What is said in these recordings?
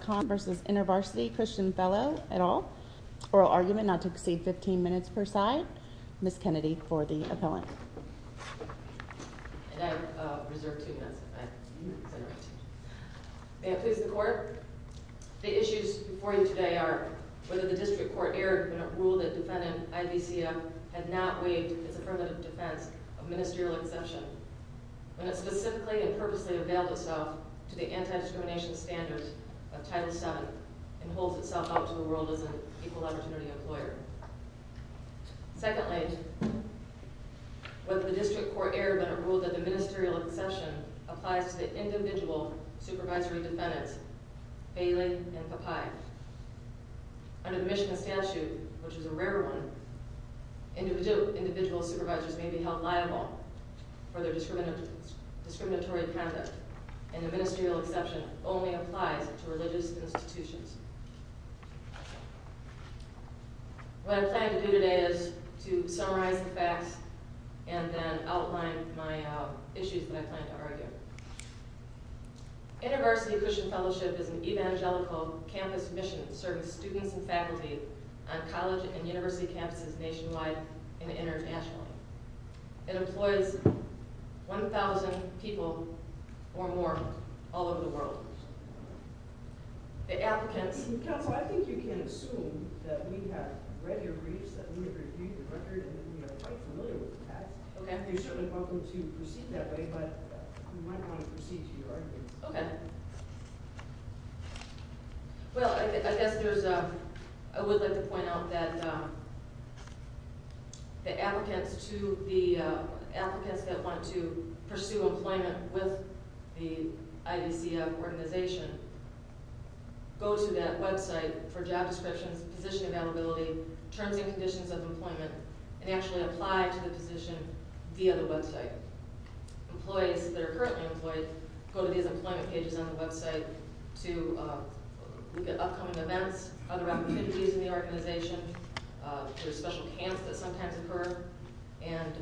Conlon v. Intervarsity Christian Fellow, et al. Oral Argument, not to exceed 15 minutes per side. Ms. Kennedy for the appellant. May it please the Court, the issues before you today are whether the District Court erred when it ruled that defendant Ivesia had not waived his affirmative defense of ministerial exception when it specifically and purposely availed itself to the anti-discrimination standards of Title VII and holds itself out to the world as an equal opportunity employer. Secondly, whether the District Court erred when it ruled that the ministerial exception applies to the individual supervisory defendants, Bailey and Papai. Under the Michigan statute, which is a rare one, individual supervisors may be held liable for their discriminatory conduct and the ministerial exception only applies to religious institutions. What I plan to do today is to summarize the facts and then outline my issues that I plan to argue. Intervarsity Christian Fellowship is an evangelical campus mission serving students and faculty on college and university campuses nationwide and internationally. It employs 1,000 people or more all over the world. The applicants... Counsel, I think you can assume that we have read your briefs, that we have reviewed your record, and that we are quite familiar with the facts. You're certainly welcome to proceed that way, but we might want to proceed to your arguments. Okay. Well, I would like to point out that the applicants that want to pursue employment with the IDCF organization go to that website for job descriptions, position availability, terms and conditions of employment, and actually apply to the position via the website. Employees that are currently employed go to these employment pages on the website to look at upcoming events, other opportunities in the organization, special camps that sometimes occur, and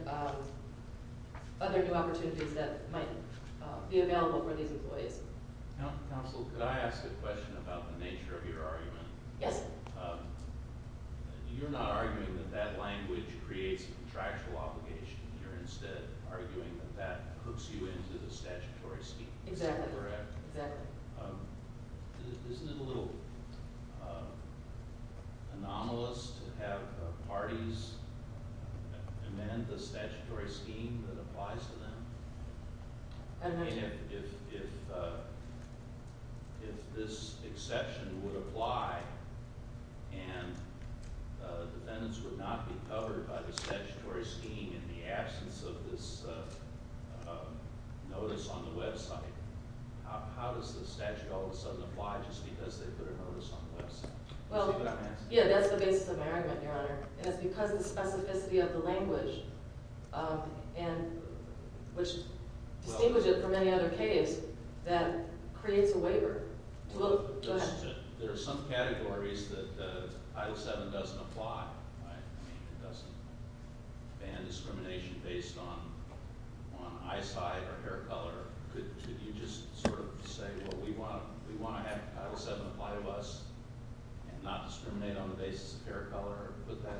other new opportunities that might be available for these employees. Counsel, could I ask a question about the nature of your argument? Yes. You're not arguing that that language creates a contractual obligation. You're instead arguing that that hooks you into the statutory scheme. Exactly. Is that correct? Exactly. Isn't it a little anomalous to have parties amend the statutory scheme that applies to them? I don't know. I mean, if this exception would apply and defendants would not be covered by the statutory scheme in the absence of this notice on the website, how does the statute all of a sudden apply just because they put a notice on the website? Well, yeah, that's the basis of my argument, Your Honor. It's because of the specificity of the language, which distinguishes it from any other case, that creates a waiver. There are some categories that Title VII doesn't apply. I mean, it doesn't ban discrimination based on eyesight or hair color. Could you just sort of say, well, we want to have Title VII apply to us and not discriminate on the basis of hair color or put that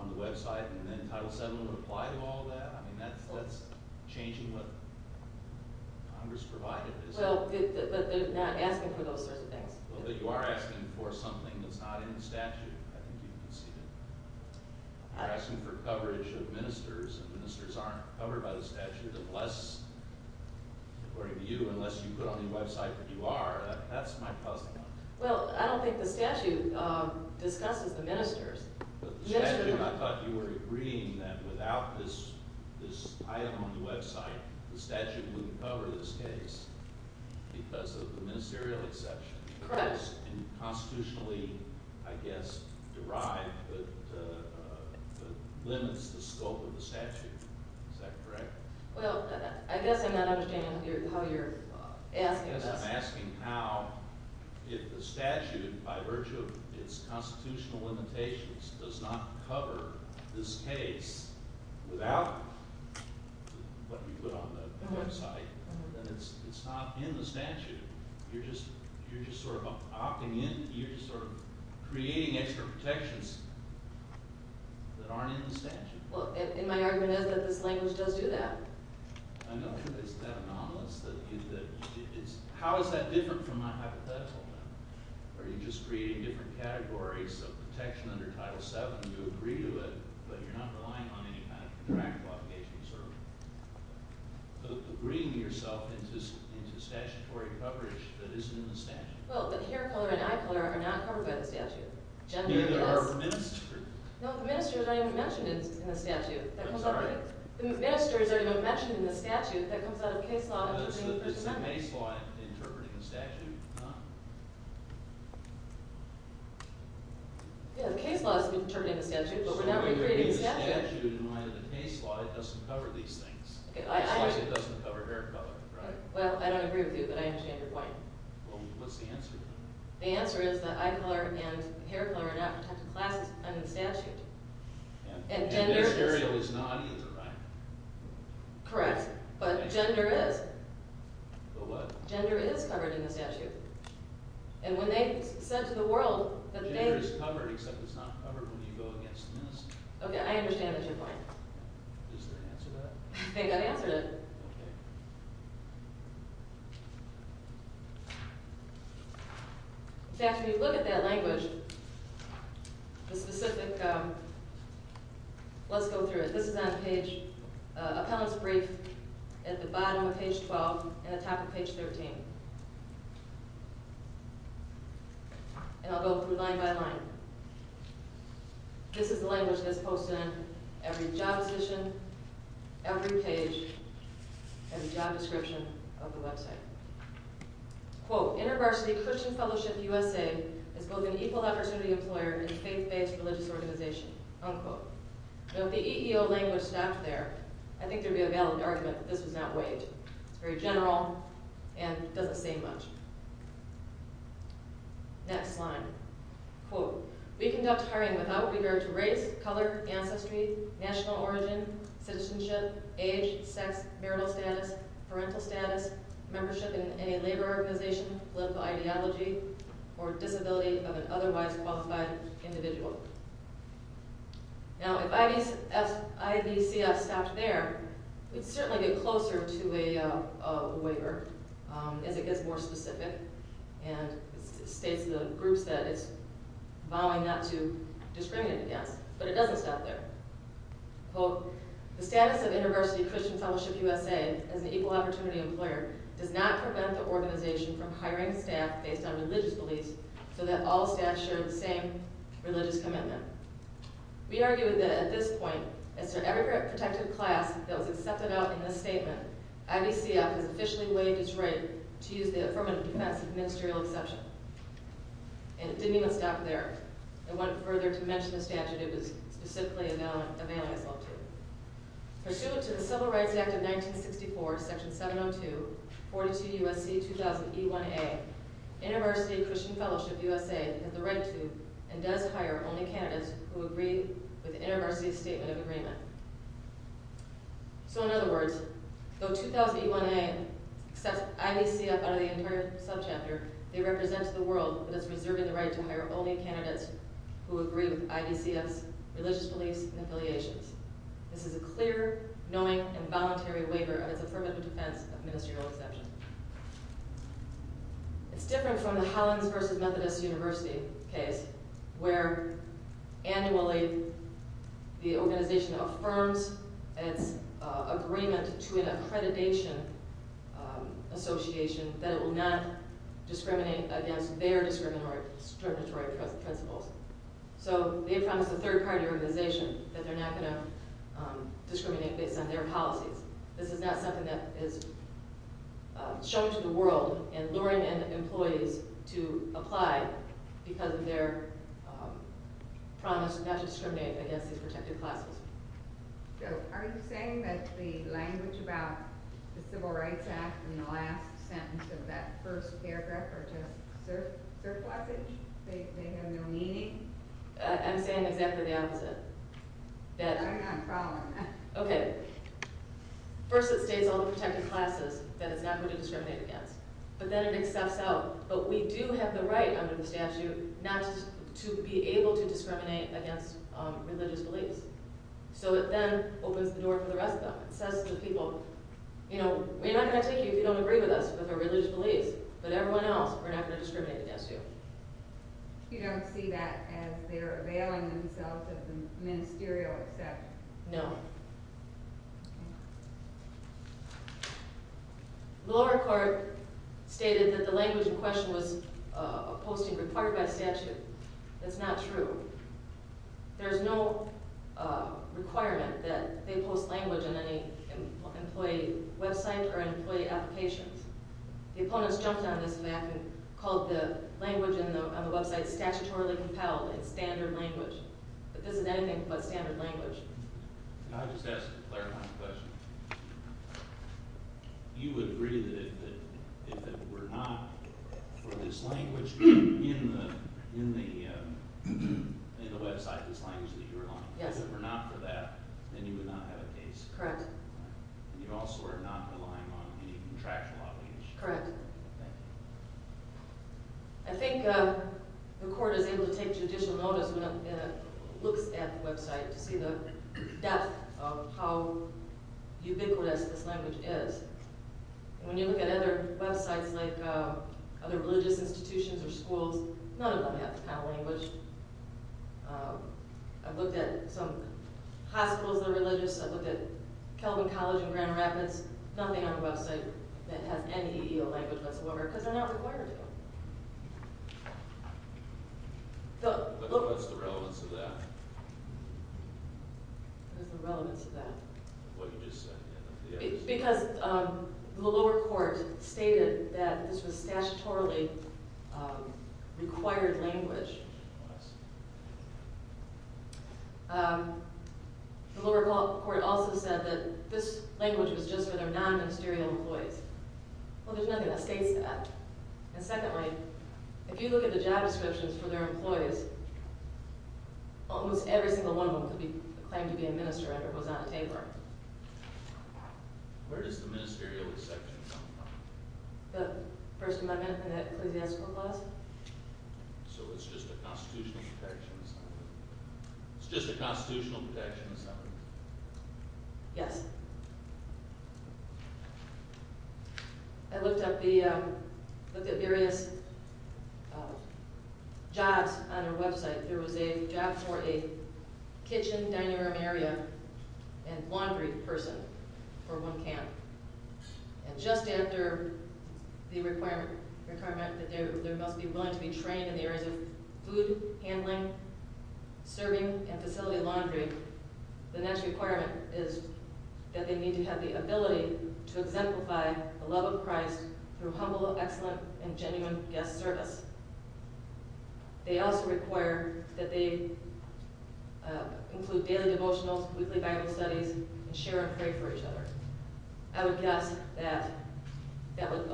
on the website and then Title VII would apply to all that? I mean, that's changing what Congress provided. Well, but they're not asking for those sorts of things. Well, but you are asking for something that's not in the statute. I think you can see that. You're asking for coverage of ministers and ministers aren't covered by the statute unless, according to you, unless you put on the website that you are. That's my puzzling. Well, I don't think the statute discusses the ministers. But the statute, I thought you were agreeing that without this item on the website, the because of the ministerial exception. Correct. And constitutionally, I guess, derived, but limits the scope of the statute. Is that correct? Well, I guess I'm not understanding how you're asking this. I guess I'm asking how, if the statute, by virtue of its constitutional limitations, does not cover this case without what you put on the website, then it's not in the statute. You're just sort of opting in. You're just sort of creating extra protections that aren't in the statute. Well, and my argument is that this language does do that. I know, but is that anomalous? How is that different from my hypothetical now? Are you just creating different categories of protection under Title VII to agree to it, but you're not relying on any kind of contractual obligation to sort of agree to yourself into statutory coverage that isn't in the statute? Well, the hair color and eye color are not covered by the statute. Gender is. Neither are ministers. No, ministers are not even mentioned in the statute. I'm sorry? Ministers are not even mentioned in the statute. That comes out of case law. That's the case law interpreting the statute. Yeah, the case law is interpreting the statute, but we're not recreating the statute. So you're giving the statute, in light of the case law, it doesn't cover these things. It's like it doesn't cover hair color, right? Well, I don't agree with you, but I understand your point. Well, what's the answer to that? The answer is that eye color and hair color are not protected classes under the statute. And this area is not either, right? Correct, but gender is. But what? Gender is covered in the statute, and when they said to the world that they— Gender is covered, except it's not covered when you go against ministers. Okay, I understand the two points. Is there an answer to that? I think I answered it. Okay. In fact, when you look at that language, the specific—let's go through it. This is on page—appellant's brief at the bottom of page 12 and the top of page 13. And I'll go through line by line. This is the language that's posted on every job position, every page, every job description of the website. Quote, InterVarsity Christian Fellowship USA is both an equal opportunity employer and faith-based religious organization. Unquote. Now, if the EEO language stopped there, I think there'd be a valid argument that this was not waived. It's very general and doesn't say much. Next slide. Quote, we conduct hiring without regard to race, color, ancestry, national origin, citizenship, age, sex, marital status, parental status, membership in any labor organization, political ideology, or disability of an otherwise qualified individual. Unquote. Now, if IVCF stopped there, we'd certainly get closer to a waiver as it gets more specific and states the groups that it's vowing not to discriminate against. But it doesn't stop there. Quote, the status of InterVarsity Christian Fellowship USA as an equal opportunity employer does not prevent the organization from hiring staff based on religious beliefs so that all staff share the same religious commitment. We argue that at this point, as for every protected class that was accepted out in this statement, IVCF has officially waived its right to use the affirmative defense as a ministerial exception. And it didn't even stop there. It went further to mention the statute it was specifically availing itself to. Pursuant to the Civil Rights Act of 1964, section 702, 42 U.S.C. 2000 E1A, InterVarsity Christian Fellowship USA has the right to and does hire only candidates who agree with InterVarsity's statement of agreement. So in other words, though 2000 E1A accepts IVCF out of the entire subchapter, they represent to the world that it's reserving the right to hire only candidates who agree with IVCF's religious beliefs and affiliations. This is a clear, knowing, and voluntary waiver of its affirmative defense of ministerial exception. It's different from the Hollins versus Methodist University case, where annually the organization affirms its agreement to an accreditation association that it will not discriminate against their discriminatory principles. So they promise a third-party organization that they're not going to discriminate based on their policies. This is not something that is shown to the world, and luring in employees to apply because of their promise not to discriminate against these protected classes. So are you saying that the language about the Civil Rights Act in the last sentence of that first paragraph are just surplusage? They have no meaning? I'm saying exactly the opposite. I'm not following that. Okay. First it states all the protected classes that it's not going to discriminate against. But then it accepts out. But we do have the right under the statute not to be able to discriminate against religious beliefs. So it then opens the door for the rest of them. It says to the people, you know, we're not going to take you if you don't agree with us with our religious beliefs. But everyone else, we're not going to discriminate against you. You don't see that as they're availing themselves of the ministerial exception? No. The lower court stated that the language in question was a posting required by statute. That's not true. There's no requirement that they post language on any employee website or employee applications. The opponents jumped on this back and called the language on the website statutorily compelled. It's standard language. But this is anything but standard language. Can I just ask a clarifying question? You agree that if it were not for this language in the website, this language that you're on, if it were not for that, then you would not have a case? Correct. And you also are not relying on any contractual obligation? Correct. Thank you. I think the court is able to take judicial notice when it looks at the website to see the depth of how ubiquitous this language is. When you look at other websites like other religious institutions or schools, none of them have the kind of language. I've looked at some hospitals that are religious. I've looked at Kelvin College in Grand Rapids. There's nothing on the website that has any EL language whatsoever because they're not required to. What's the relevance of that? What's the relevance of that? What you just said. Because the lower court stated that this was statutorily required language. I see. The lower court also said that this language was just for their non-ministerial employees. Well, there's nothing that states that. And secondly, if you look at the job descriptions for their employees, almost every single one of them could be claimed to be a minister if it was on a paper. Where does the ministerial section come from? The First Amendment and the ecclesiastical clause? So it's just the Constitutional Protection Assembly? It's just the Constitutional Protection Assembly? Yes. I looked at various jobs on their website. There was a job for a kitchen, dining room area, and laundry person for one camp. And just after the requirement that they must be willing to be trained in the areas of food handling, serving, and facility laundry, the next requirement is that they need to have the ability to exemplify the love of Christ through humble, excellent, and genuine guest service. They also require that they include daily devotionals, weekly Bible studies, and share and pray for each other. I would guess that that would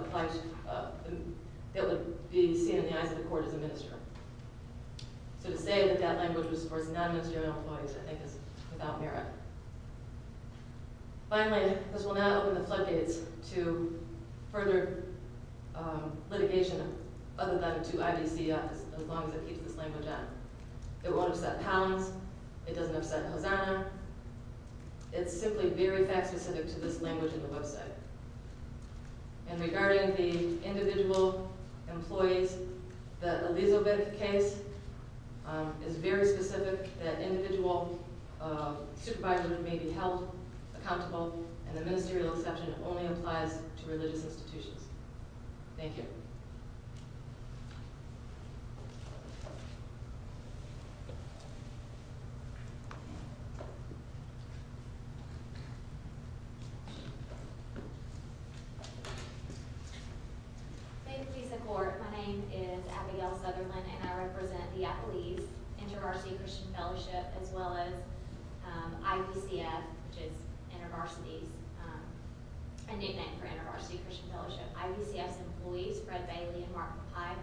be seen in the eyes of the court as a minister. So to say that that language was for non-ministerial employees I think is without merit. Finally, this will not open the floodgates to further litigation other than to IDC as long as it keeps this language on. It won't upset Palins. It doesn't upset Hosanna. It's simply very fact-specific to this language on the website. And regarding the individual employees, the Elizabeth case is very specific that individual supervisors may be held accountable, and the ministerial exception only applies to religious institutions. Thank you. Thank you, Lisa Court. My name is Abigail Southerland, and I represent the Appalese InterVarsity Christian Fellowship, as well as IVCF, which is InterVarsity's, a new name for InterVarsity Christian Fellowship, IVCF's employees, Fred Bailey and Mark McPie.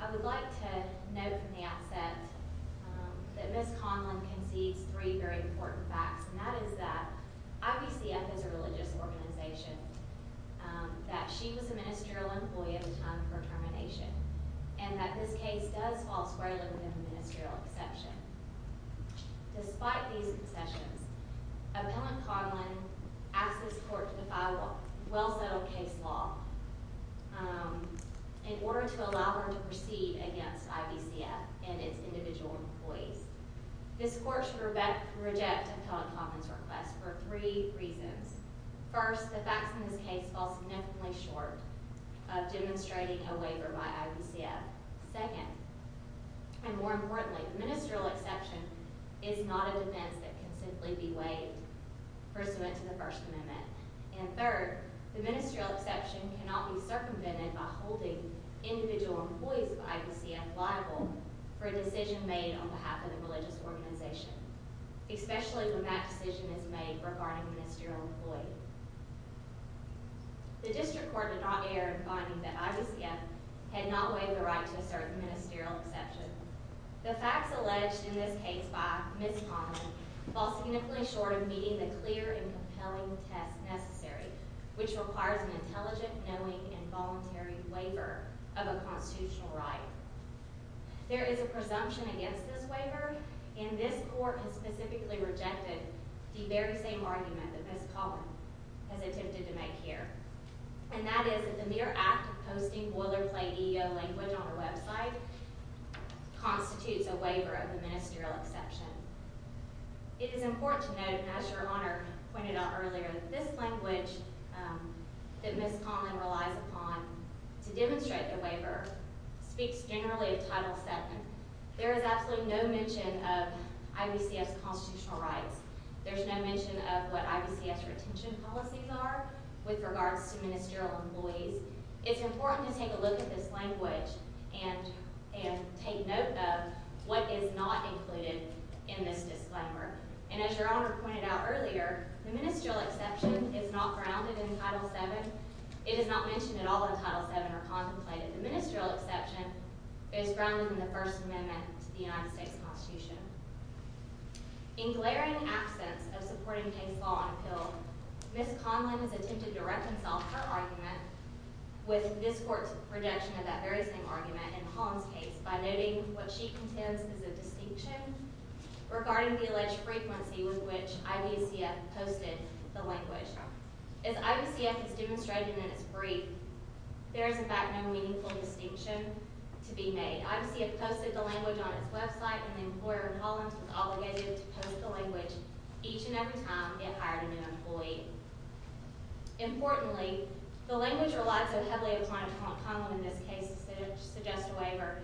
I would like to note from the outset that Ms. Conlon concedes three very important facts, and that is that IVCF is a religious organization, that she was a ministerial employee at the time of her termination, and that this case does fall squarely within the ministerial exception. Despite these concessions, Appellant Conlon asked this court to defy well-settled case law in order to allow her to proceed against IVCF and its individual employees. This court rejected Appellant Conlon's request for three reasons. First, the facts in this case fall significantly short of demonstrating a waiver by IVCF. Second, and more importantly, the ministerial exception is not a defense that can simply be waived pursuant to the First Amendment. And third, the ministerial exception cannot be circumvented by holding individual employees of IVCF liable for a decision made on behalf of the religious organization, especially when that decision is made regarding a ministerial employee. The District Court did not err in finding that IVCF had not waived the right to assert the ministerial exception. The facts alleged in this case by Ms. Conlon fall significantly short of meeting the clear and compelling test necessary, which requires an intelligent, knowing, and voluntary waiver of a constitutional right. There is a presumption against this waiver, and this court has specifically rejected the very same argument that Ms. Conlon has attempted to make here, and that is that the mere act of posting boilerplate EEO language on her website constitutes a waiver of the ministerial exception. It is important to note, and as Your Honor pointed out earlier, that this language that Ms. Conlon relies upon to demonstrate the waiver speaks generally of Title VII. There is absolutely no mention of IVCF's constitutional rights. There's no mention of what IVCF's retention policies are with regards to ministerial employees. It's important to take a look at this language and take note of what is not included in this disclaimer. And as Your Honor pointed out earlier, the ministerial exception is not grounded in Title VII. It is not mentioned at all in Title VII or contemplated. The ministerial exception is grounded in the First Amendment to the United States Constitution. In glaring absence of supporting baseball on appeal, Ms. Conlon has attempted to reconcile her argument with this court's rejection of that very same argument in Holland's case by noting what she contends is a distinction regarding the alleged frequency with which IVCF posted the language. As IVCF has demonstrated in its brief, there is in fact no meaningful distinction to be made. IVCF posted the language on its website and the employer in Holland was obligated to post the language each and every time it hired a new employee. Importantly, the language relied so heavily upon upon Conlon in this case to suggest a waiver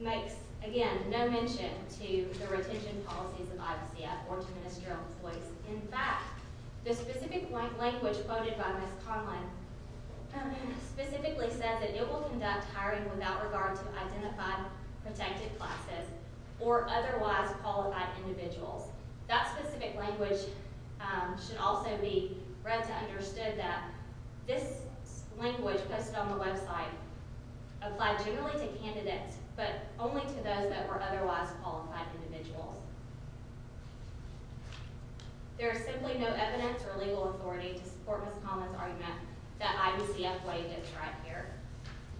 makes, again, no mention to the retention policies of IVCF or to ministerial employees. In fact, the specific language quoted by Ms. Conlon specifically says that it will conduct hiring without regard to identified protected classes or otherwise qualified individuals. That specific language should also be read to understand that this language posted on the website applied generally to candidates but only to those that were otherwise qualified individuals. There is simply no evidence or legal authority to support Ms. Conlon's argument that IVCF waived its right here.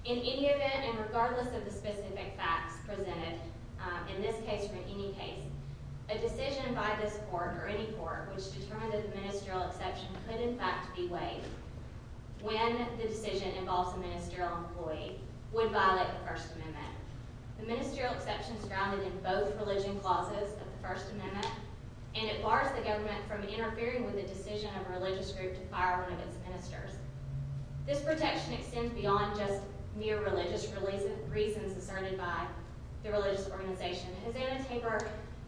In any event, and regardless of the specific facts presented in this case or in any case, a decision by this court or any court which determined that the ministerial exception could in fact be waived when the decision involves a ministerial employee would violate the First Amendment. The ministerial exception is grounded in both religion clauses of the First Amendment and it bars the government from interfering with the decision of a religious group to fire one of its ministers. This protection extends beyond just mere religious reasons asserted by the religious organization.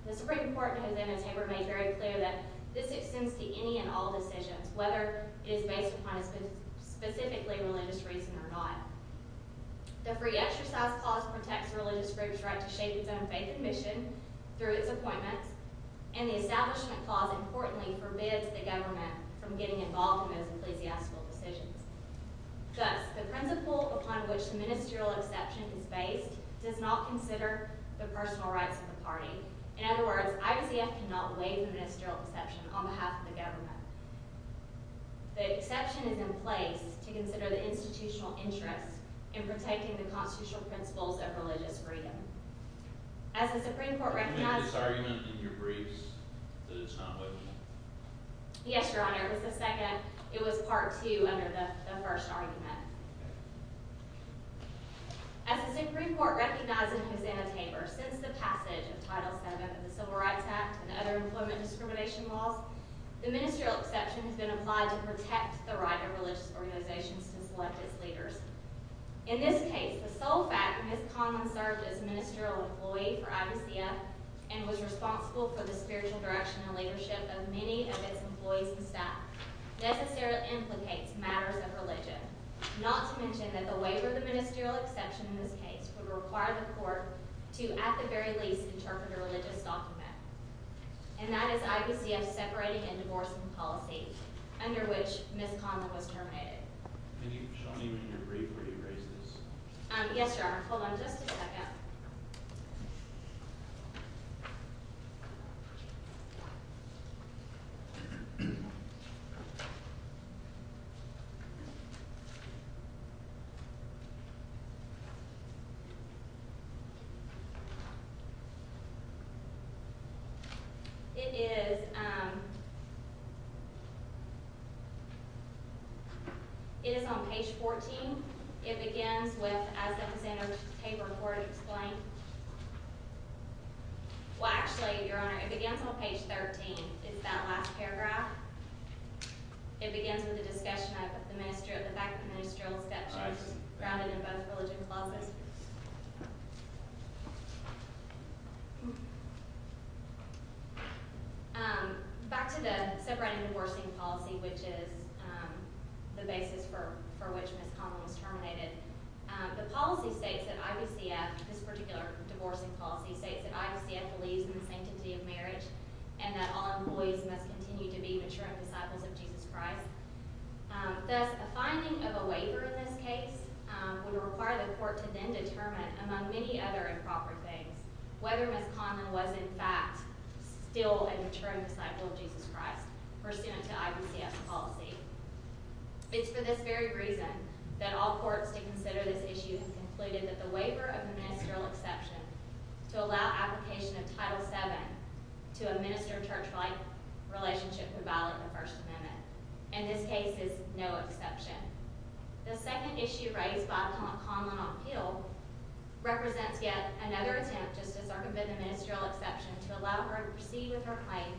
The Supreme Court in Hosanna-Tabor made very clear that this extends to any and all decisions, whether it is based upon a specifically religious reason or not. The Free Exercise Clause protects religious groups' right to shape its own faith and mission through its appointments, and the Establishment Clause importantly forbids the government from getting involved in those ecclesiastical decisions. Thus, the principle upon which the ministerial exception is based does not consider the personal rights of the party. In other words, IVCF cannot waive the ministerial exception on behalf of the government. The exception is in place to consider the institutional interest in protecting the constitutional principles of religious freedom. As the Supreme Court recognized... Can you make this argument in your briefs that it's not waiving? Yes, Your Honor. It was a second. It was part two under the first argument. As the Supreme Court recognized in Hosanna-Tabor, since the passage of Title VII of the Civil Rights Act and other employment discrimination laws, the ministerial exception has been applied to protect the right of religious organizations to select its leaders. In this case, the sole fact that Ms. Conlon served as ministerial employee for IVCF and was responsible for the spiritual direction and leadership of many of its employees and staff necessarily implicates matters of religion, not to mention that the waiver of the ministerial exception in this case would require the court to, at the very least, interpret a religious document. And that is IVCF separating and divorcing policy, under which Ms. Conlon was terminated. Can you show me in your brief where you raised this? Yes, Your Honor. Hold on just a second. It is on page 14. It begins with, as the Hosanna-Tabor court explained... Well, actually, Your Honor, it begins on page 13. It's that last paragraph. It begins with a discussion of the fact that the ministerial exception is grounded in both religion and law. Back to the separating and divorcing policy, which is the basis for which Ms. Conlon was terminated. The policy states that IVCF, this particular divorcing policy, states that IVCF believes in the sanctity of marriage and that all employees must continue to be maturing disciples of Jesus Christ. Thus, a finding of a waiver in this case would require the court to then determine, among many other improper things, whether Ms. Conlon was, in fact, still a maturing disciple of Jesus Christ, pursuant to IVCF policy. It's for this very reason that all courts to consider this issue have concluded that the waiver of the ministerial exception to allow application of Title VII to administer church-like relationship could violate the First Amendment. And this case is no exception. The second issue raised by Ms. Conlon on appeal represents yet another attempt just to circumvent the ministerial exception to allow her to proceed with her claim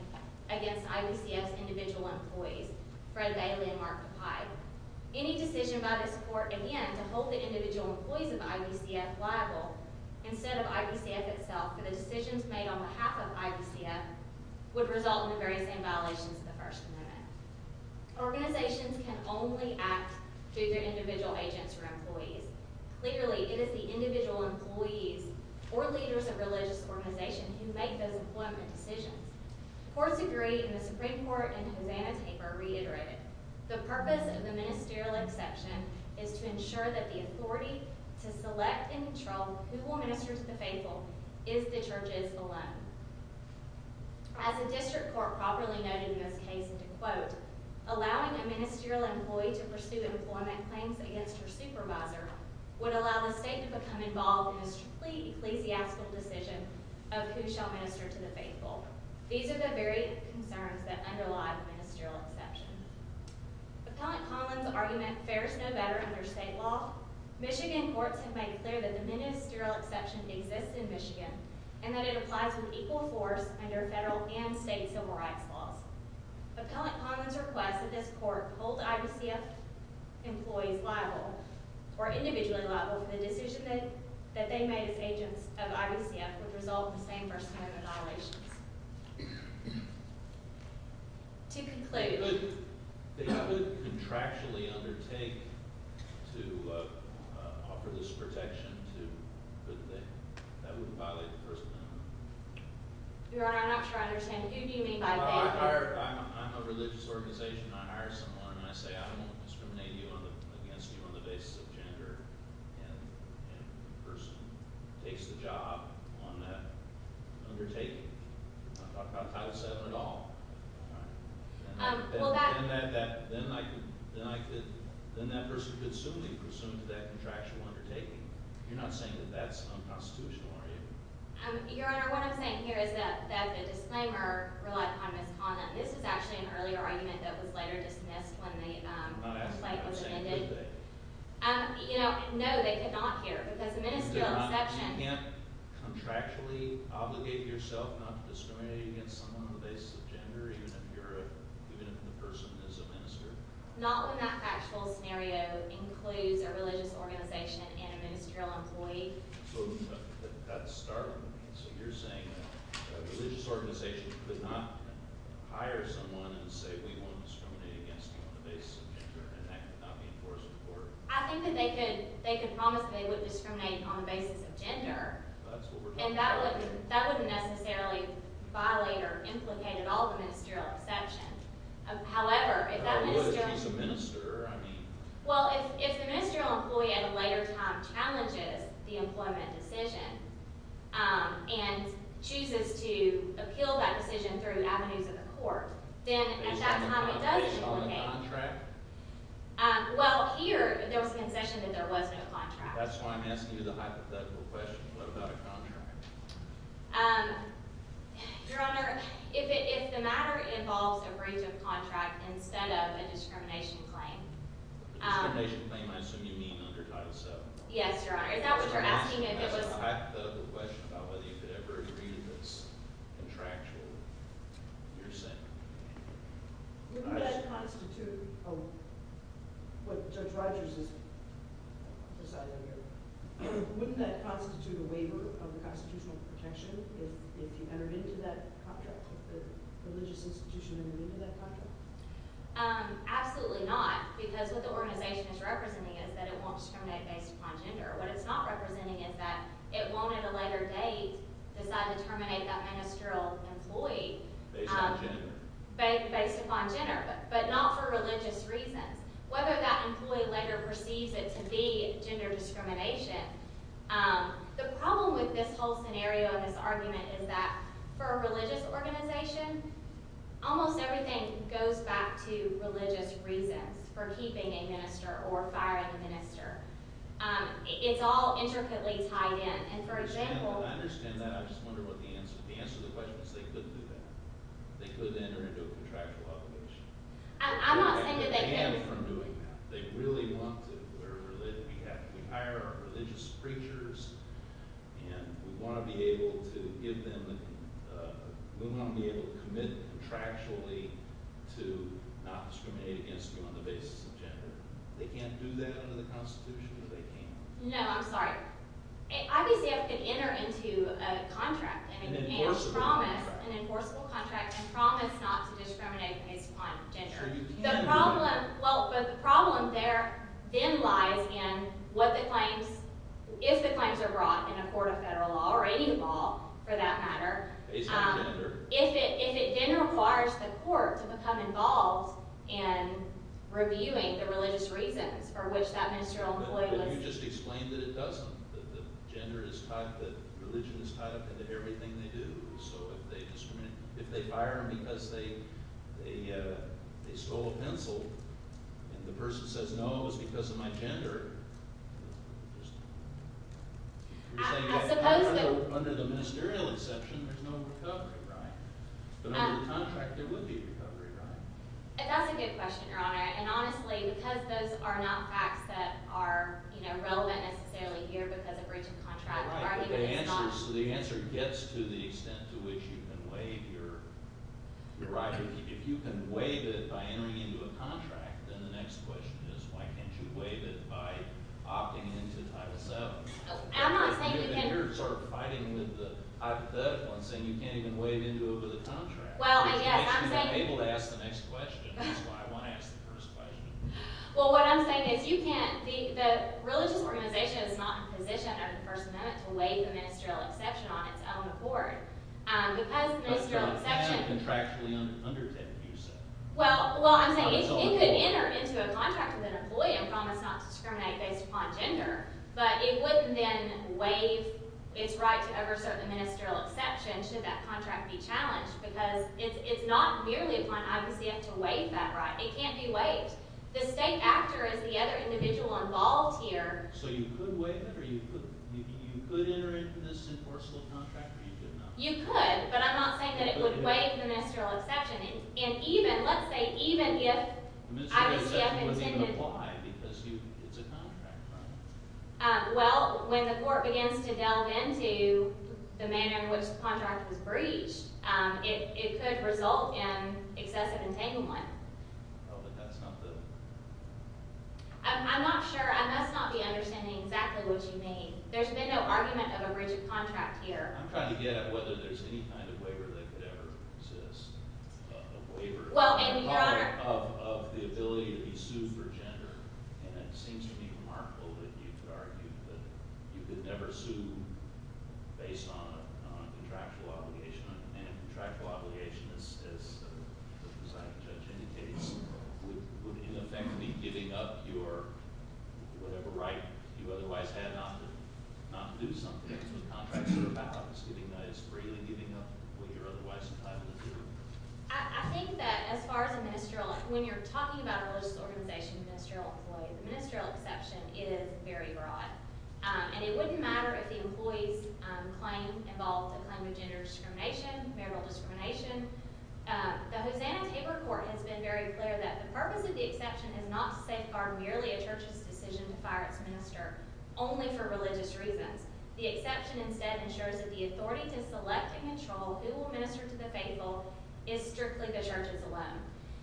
against IVCF's individual employees, Fred Bailey and Martha Pye. Any decision by this court, again, to hold the individual employees of IVCF liable instead of IVCF itself for the decisions made on behalf of IVCF would result in the very same violations of the First Amendment. Organizations can only act due to individual agents or employees. Clearly, it is the individual employees or leaders of religious organizations who make those employment decisions. Courts agree, and the Supreme Court in Hosanna Taper reiterated, the purpose of the ministerial exception is to ensure that the authority to select and control who will minister to the faithful is the churches alone. As a district court properly noted in this case, and to quote, allowing a ministerial employee to pursue employment claims against her supervisor would allow the state to become involved in a complete ecclesiastical decision of who shall minister to the faithful. These are the very concerns that underlie the ministerial exception. Appellant Conlon's argument fares no better under state law. Michigan courts have made clear that the ministerial exception exists in Michigan and that it applies with equal force under federal and state civil rights laws. Appellant Conlon's request that this court hold IVCF employees liable, or individually liable for the decision that they made as agents of IVCF would result in the same First Amendment violations. To conclude, I would contractually undertake to offer this protection to, but that wouldn't violate the First Amendment. Your Honor, I'm not sure I understand. Who do you mean by that? I'm a religious organization, and I hire someone, and I say I won't discriminate against you on the basis of gender, and the person takes the job on that undertaking. I'm not talking about Title VII at all. Then that person could soonly presume to that contractual undertaking. You're not saying that that's unconstitutional, are you? Your Honor, what I'm saying here is that the disclaimer relied upon Ms. Conlon. This was actually an earlier argument that was later dismissed when the complaint was amended. I'm not asking how they could say that. No, they could not here, because the ministerial exception You can't contractually obligate yourself not to discriminate against someone on the basis of gender, even if the person is a minister? Not when that factual scenario includes a religious organization and a ministerial employee. So that's startling to me. So you're saying that a religious organization could not hire someone and say, we won't discriminate against you on the basis of gender, and that could not be enforced in court? I think that they could promise that they wouldn't discriminate on the basis of gender. That's what we're talking about. That wouldn't necessarily violate or implicate at all the ministerial exception. However, if that ministerial employee at a later time challenges the employment decision and chooses to appeal that decision through avenues of the court, then at that time it does implicate. Based on the contract? Well, here there was a concession that there was no contract. That's why I'm asking you the hypothetical question. What about a contract? Your Honor, if the matter involves a breach of contract instead of a discrimination claim. Discrimination claim, I assume you mean under Title VII? Yes, Your Honor. Is that what you're asking? I have a hypothetical question about whether you could ever agree to this contractual, you're saying. Wouldn't that constitute what Judge Rogers is deciding here? Wouldn't that constitute a waiver of the constitutional protection if you entered into that contract, if the religious institution entered into that contract? Absolutely not, because what the organization is representing is that it won't discriminate based upon gender. What it's not representing is that it won't at a later date decide to terminate that ministerial employee. Based upon gender? Based upon gender, but not for religious reasons. Whether that employee later perceives it to be gender discrimination, the problem with this whole scenario and this argument is that for a religious organization, almost everything goes back to religious reasons for keeping a minister or firing a minister. It's all intricately tied in. I understand that. I just wonder what the answer is. The answer to the question is they couldn't do that. They could enter into a contractual obligation. I'm not saying that they can't. They can't from doing that. They really want to. We hire our religious preachers, and we want to be able to commit contractually to not discriminate against you on the basis of gender. They can't do that under the Constitution if they can't. No, I'm sorry. Obviously, they have to enter into a contract. An enforceable contract. An enforceable contract and promise not to discriminate based upon gender. The problem there then lies in if the claims are brought in a court of federal law or any law for that matter. Based upon gender. If it then requires the court to become involved in reviewing the religious reasons for which that ministerial employee was… Well, you just explained that it doesn't. That gender is tied – that religion is tied up into everything they do. So if they discriminate – if they fire them because they stole a pencil and the person says, no, it was because of my gender, you're saying… I suppose that… Under the ministerial exception, there's no recovery, right? But under the contract, there would be a recovery, right? That's a good question, Your Honor. And honestly, because those are not facts that are relevant necessarily here because of breach of contract or even if it's not… The answer gets to the extent to which you can waive your right. If you can waive it by entering into a contract, then the next question is why can't you waive it by opting into Title VII? I'm not saying you can… You're sort of fighting with the hypothetical and saying you can't even waive into it with a contract. Well, I guess I'm saying… I'm able to ask the next question. That's why I want to ask the first question. Well, what I'm saying is you can't. The religious organization is not in a position under the First Amendment to waive the ministerial exception on its own accord. Because the ministerial exception… But it cannot contractually undertake the use of it. Well, I'm saying it could enter into a contract with an employee and promise not to discriminate based upon gender, but it wouldn't then waive its right to over-certain the ministerial exception should that contract be challenged because it's not merely upon IVCF to waive that right. It can't be waived. The state actor is the other individual involved here. So you could waive it or you could enter into this in forceful contract or you could not? You could, but I'm not saying that it would waive the ministerial exception. And even, let's say, even if IVCF intended… The ministerial exception wouldn't even apply because it's a contract, right? Well, when the court begins to delve into the manner in which the contract was breached, it could result in excessive entanglement. Oh, but that's not the… I'm not sure. I must not be understanding exactly what you mean. There's been no argument of a breach of contract here. I'm trying to get at whether there's any kind of waiver that could ever exist, a waiver… Well, and Your Honor… …of the ability to be sued for gender. And it seems to me remarkable that you could argue that you could never sue based on a contractual obligation. And a contractual obligation, as the deciding judge indicates, would, in effect, be giving up your… whatever right you otherwise had not to do something. So the contract is about freely giving up what you're otherwise entitled to do. I think that as far as a ministerial… When you're talking about a religious organization, a ministerial employee, the ministerial exception is very broad. And it wouldn't matter if the employee's claim involved a claim of gender discrimination, marital discrimination. The Hosanna-Tabor Court has been very clear that the purpose of the exception is not to safeguard merely a church's decision to fire its minister only for religious reasons. The exception instead ensures that the authority to select and control who will minister to the faithful is strictly the church's alone.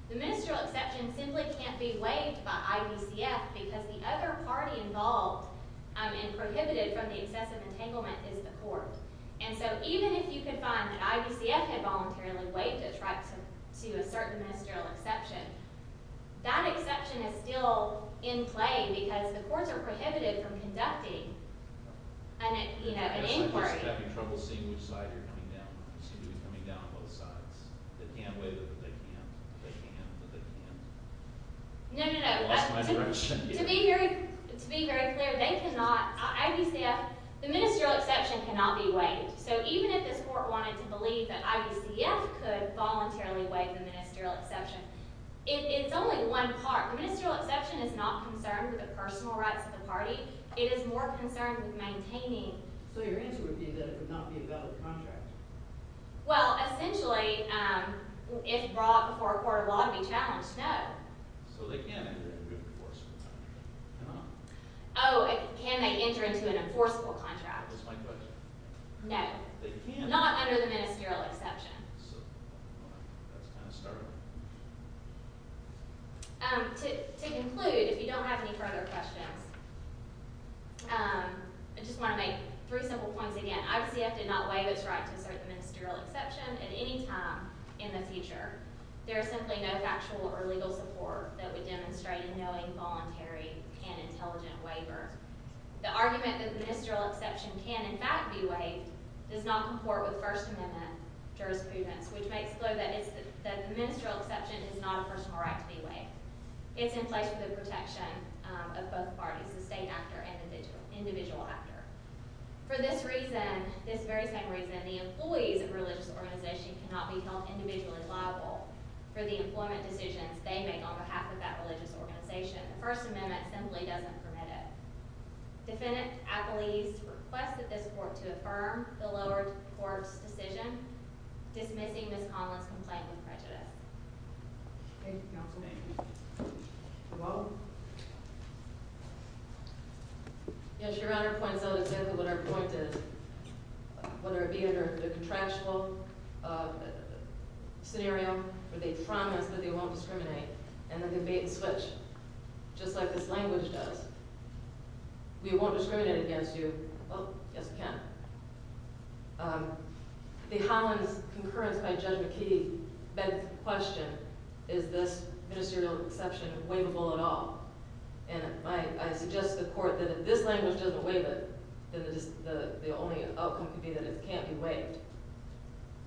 The ministerial exception simply can't be waived by IBCF because the other party involved and prohibited from the excessive entanglement is the court. And so even if you could find that IBCF had voluntarily waived a tribe to a certain ministerial exception, that exception is still in play because the courts are prohibited from conducting an inquiry. I guess I'm having trouble seeing which side you're coming down on. You seem to be coming down on both sides. They can't waive it, but they can't. They can't, but they can't. No, no, no. I lost my direction. To be very clear, they cannot… IBCF… The ministerial exception cannot be waived. So even if this court wanted to believe that IBCF could voluntarily waive the ministerial exception, it's only one part. The ministerial exception is not concerned with the personal rights of the party. It is more concerned with maintaining… So your answer would be that it would not be a valid contract. Well, essentially, if brought before a court of law, it would be challenged. No. So they can't enter into an enforceable contract, can they? Oh, can they enter into an enforceable contract? That's my question. No. They can't? Not under the ministerial exception. That's kind of startling. To conclude, if you don't have any further questions, I just want to make three simple points again. IBCF did not waive its right to assert the ministerial exception at any time in the future. There is simply no factual or legal support that would demonstrate a knowing, voluntary, and intelligent waiver. The argument that the ministerial exception can, in fact, be waived does not comport with First Amendment jurisprudence, which makes clear that the ministerial exception is not a personal right to be waived. It's in place for the protection of both parties, the state actor and the individual actor. For this very same reason, the employees of a religious organization cannot be held individually liable for the employment decisions they make on behalf of that religious organization. The First Amendment simply doesn't permit it. Defendant Appellees request that this court to affirm the lower court's decision dismissing Ms. Conlon's complaint with prejudice. Thank you, Counselor Baker. You're welcome. Yes, Your Honor points out exactly what our point is, whether it be under the contractual scenario where they promise that they won't discriminate and then debate and switch, just like this language does. We won't discriminate against you. Well, yes, we can. The Highlander's concurrence by Judge McKee begs the question, is this ministerial exception waivable at all? And I suggest to the court that if this language doesn't waive it, then the only outcome could be that it can't be waived.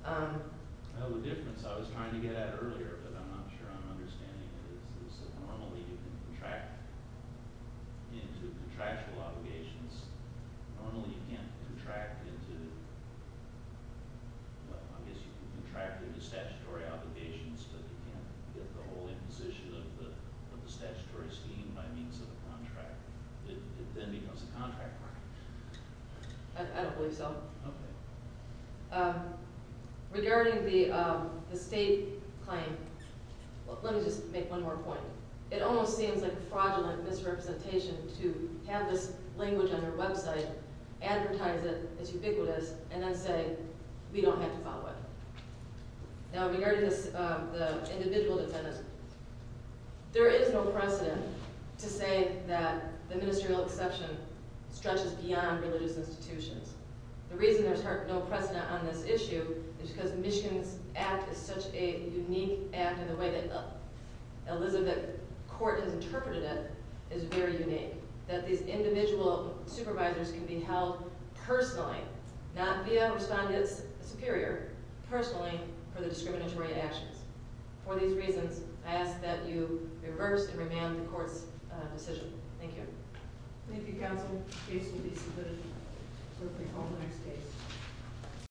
The difference I was trying to get at earlier, but I'm not sure I'm understanding it, is that normally you can contract into contractual obligations. Normally you can't contract into statutory obligations, but you can't get the whole imposition of the statutory scheme by means of a contract. It then becomes a contract. I don't believe so. Okay. Regarding the state claim, let me just make one more point. It almost seems like a fraudulent misrepresentation to have this language on your website, advertise it as ubiquitous, and then say, we don't have to follow it. Now, regarding the individual defendant, there is no precedent to say that the ministerial exception stretches beyond religious institutions. The reason there's no precedent on this issue is because the Michigan Act is such a unique act in the way that Elizabeth Court has interpreted it is very unique. That these individual supervisors can be held personally, not via a respondent superior, personally for the discriminatory actions. For these reasons, I ask that you reverse and remand the court's decision. Thank you. Thank you, counsel. Excuse me just a minute. We'll take all the next cases.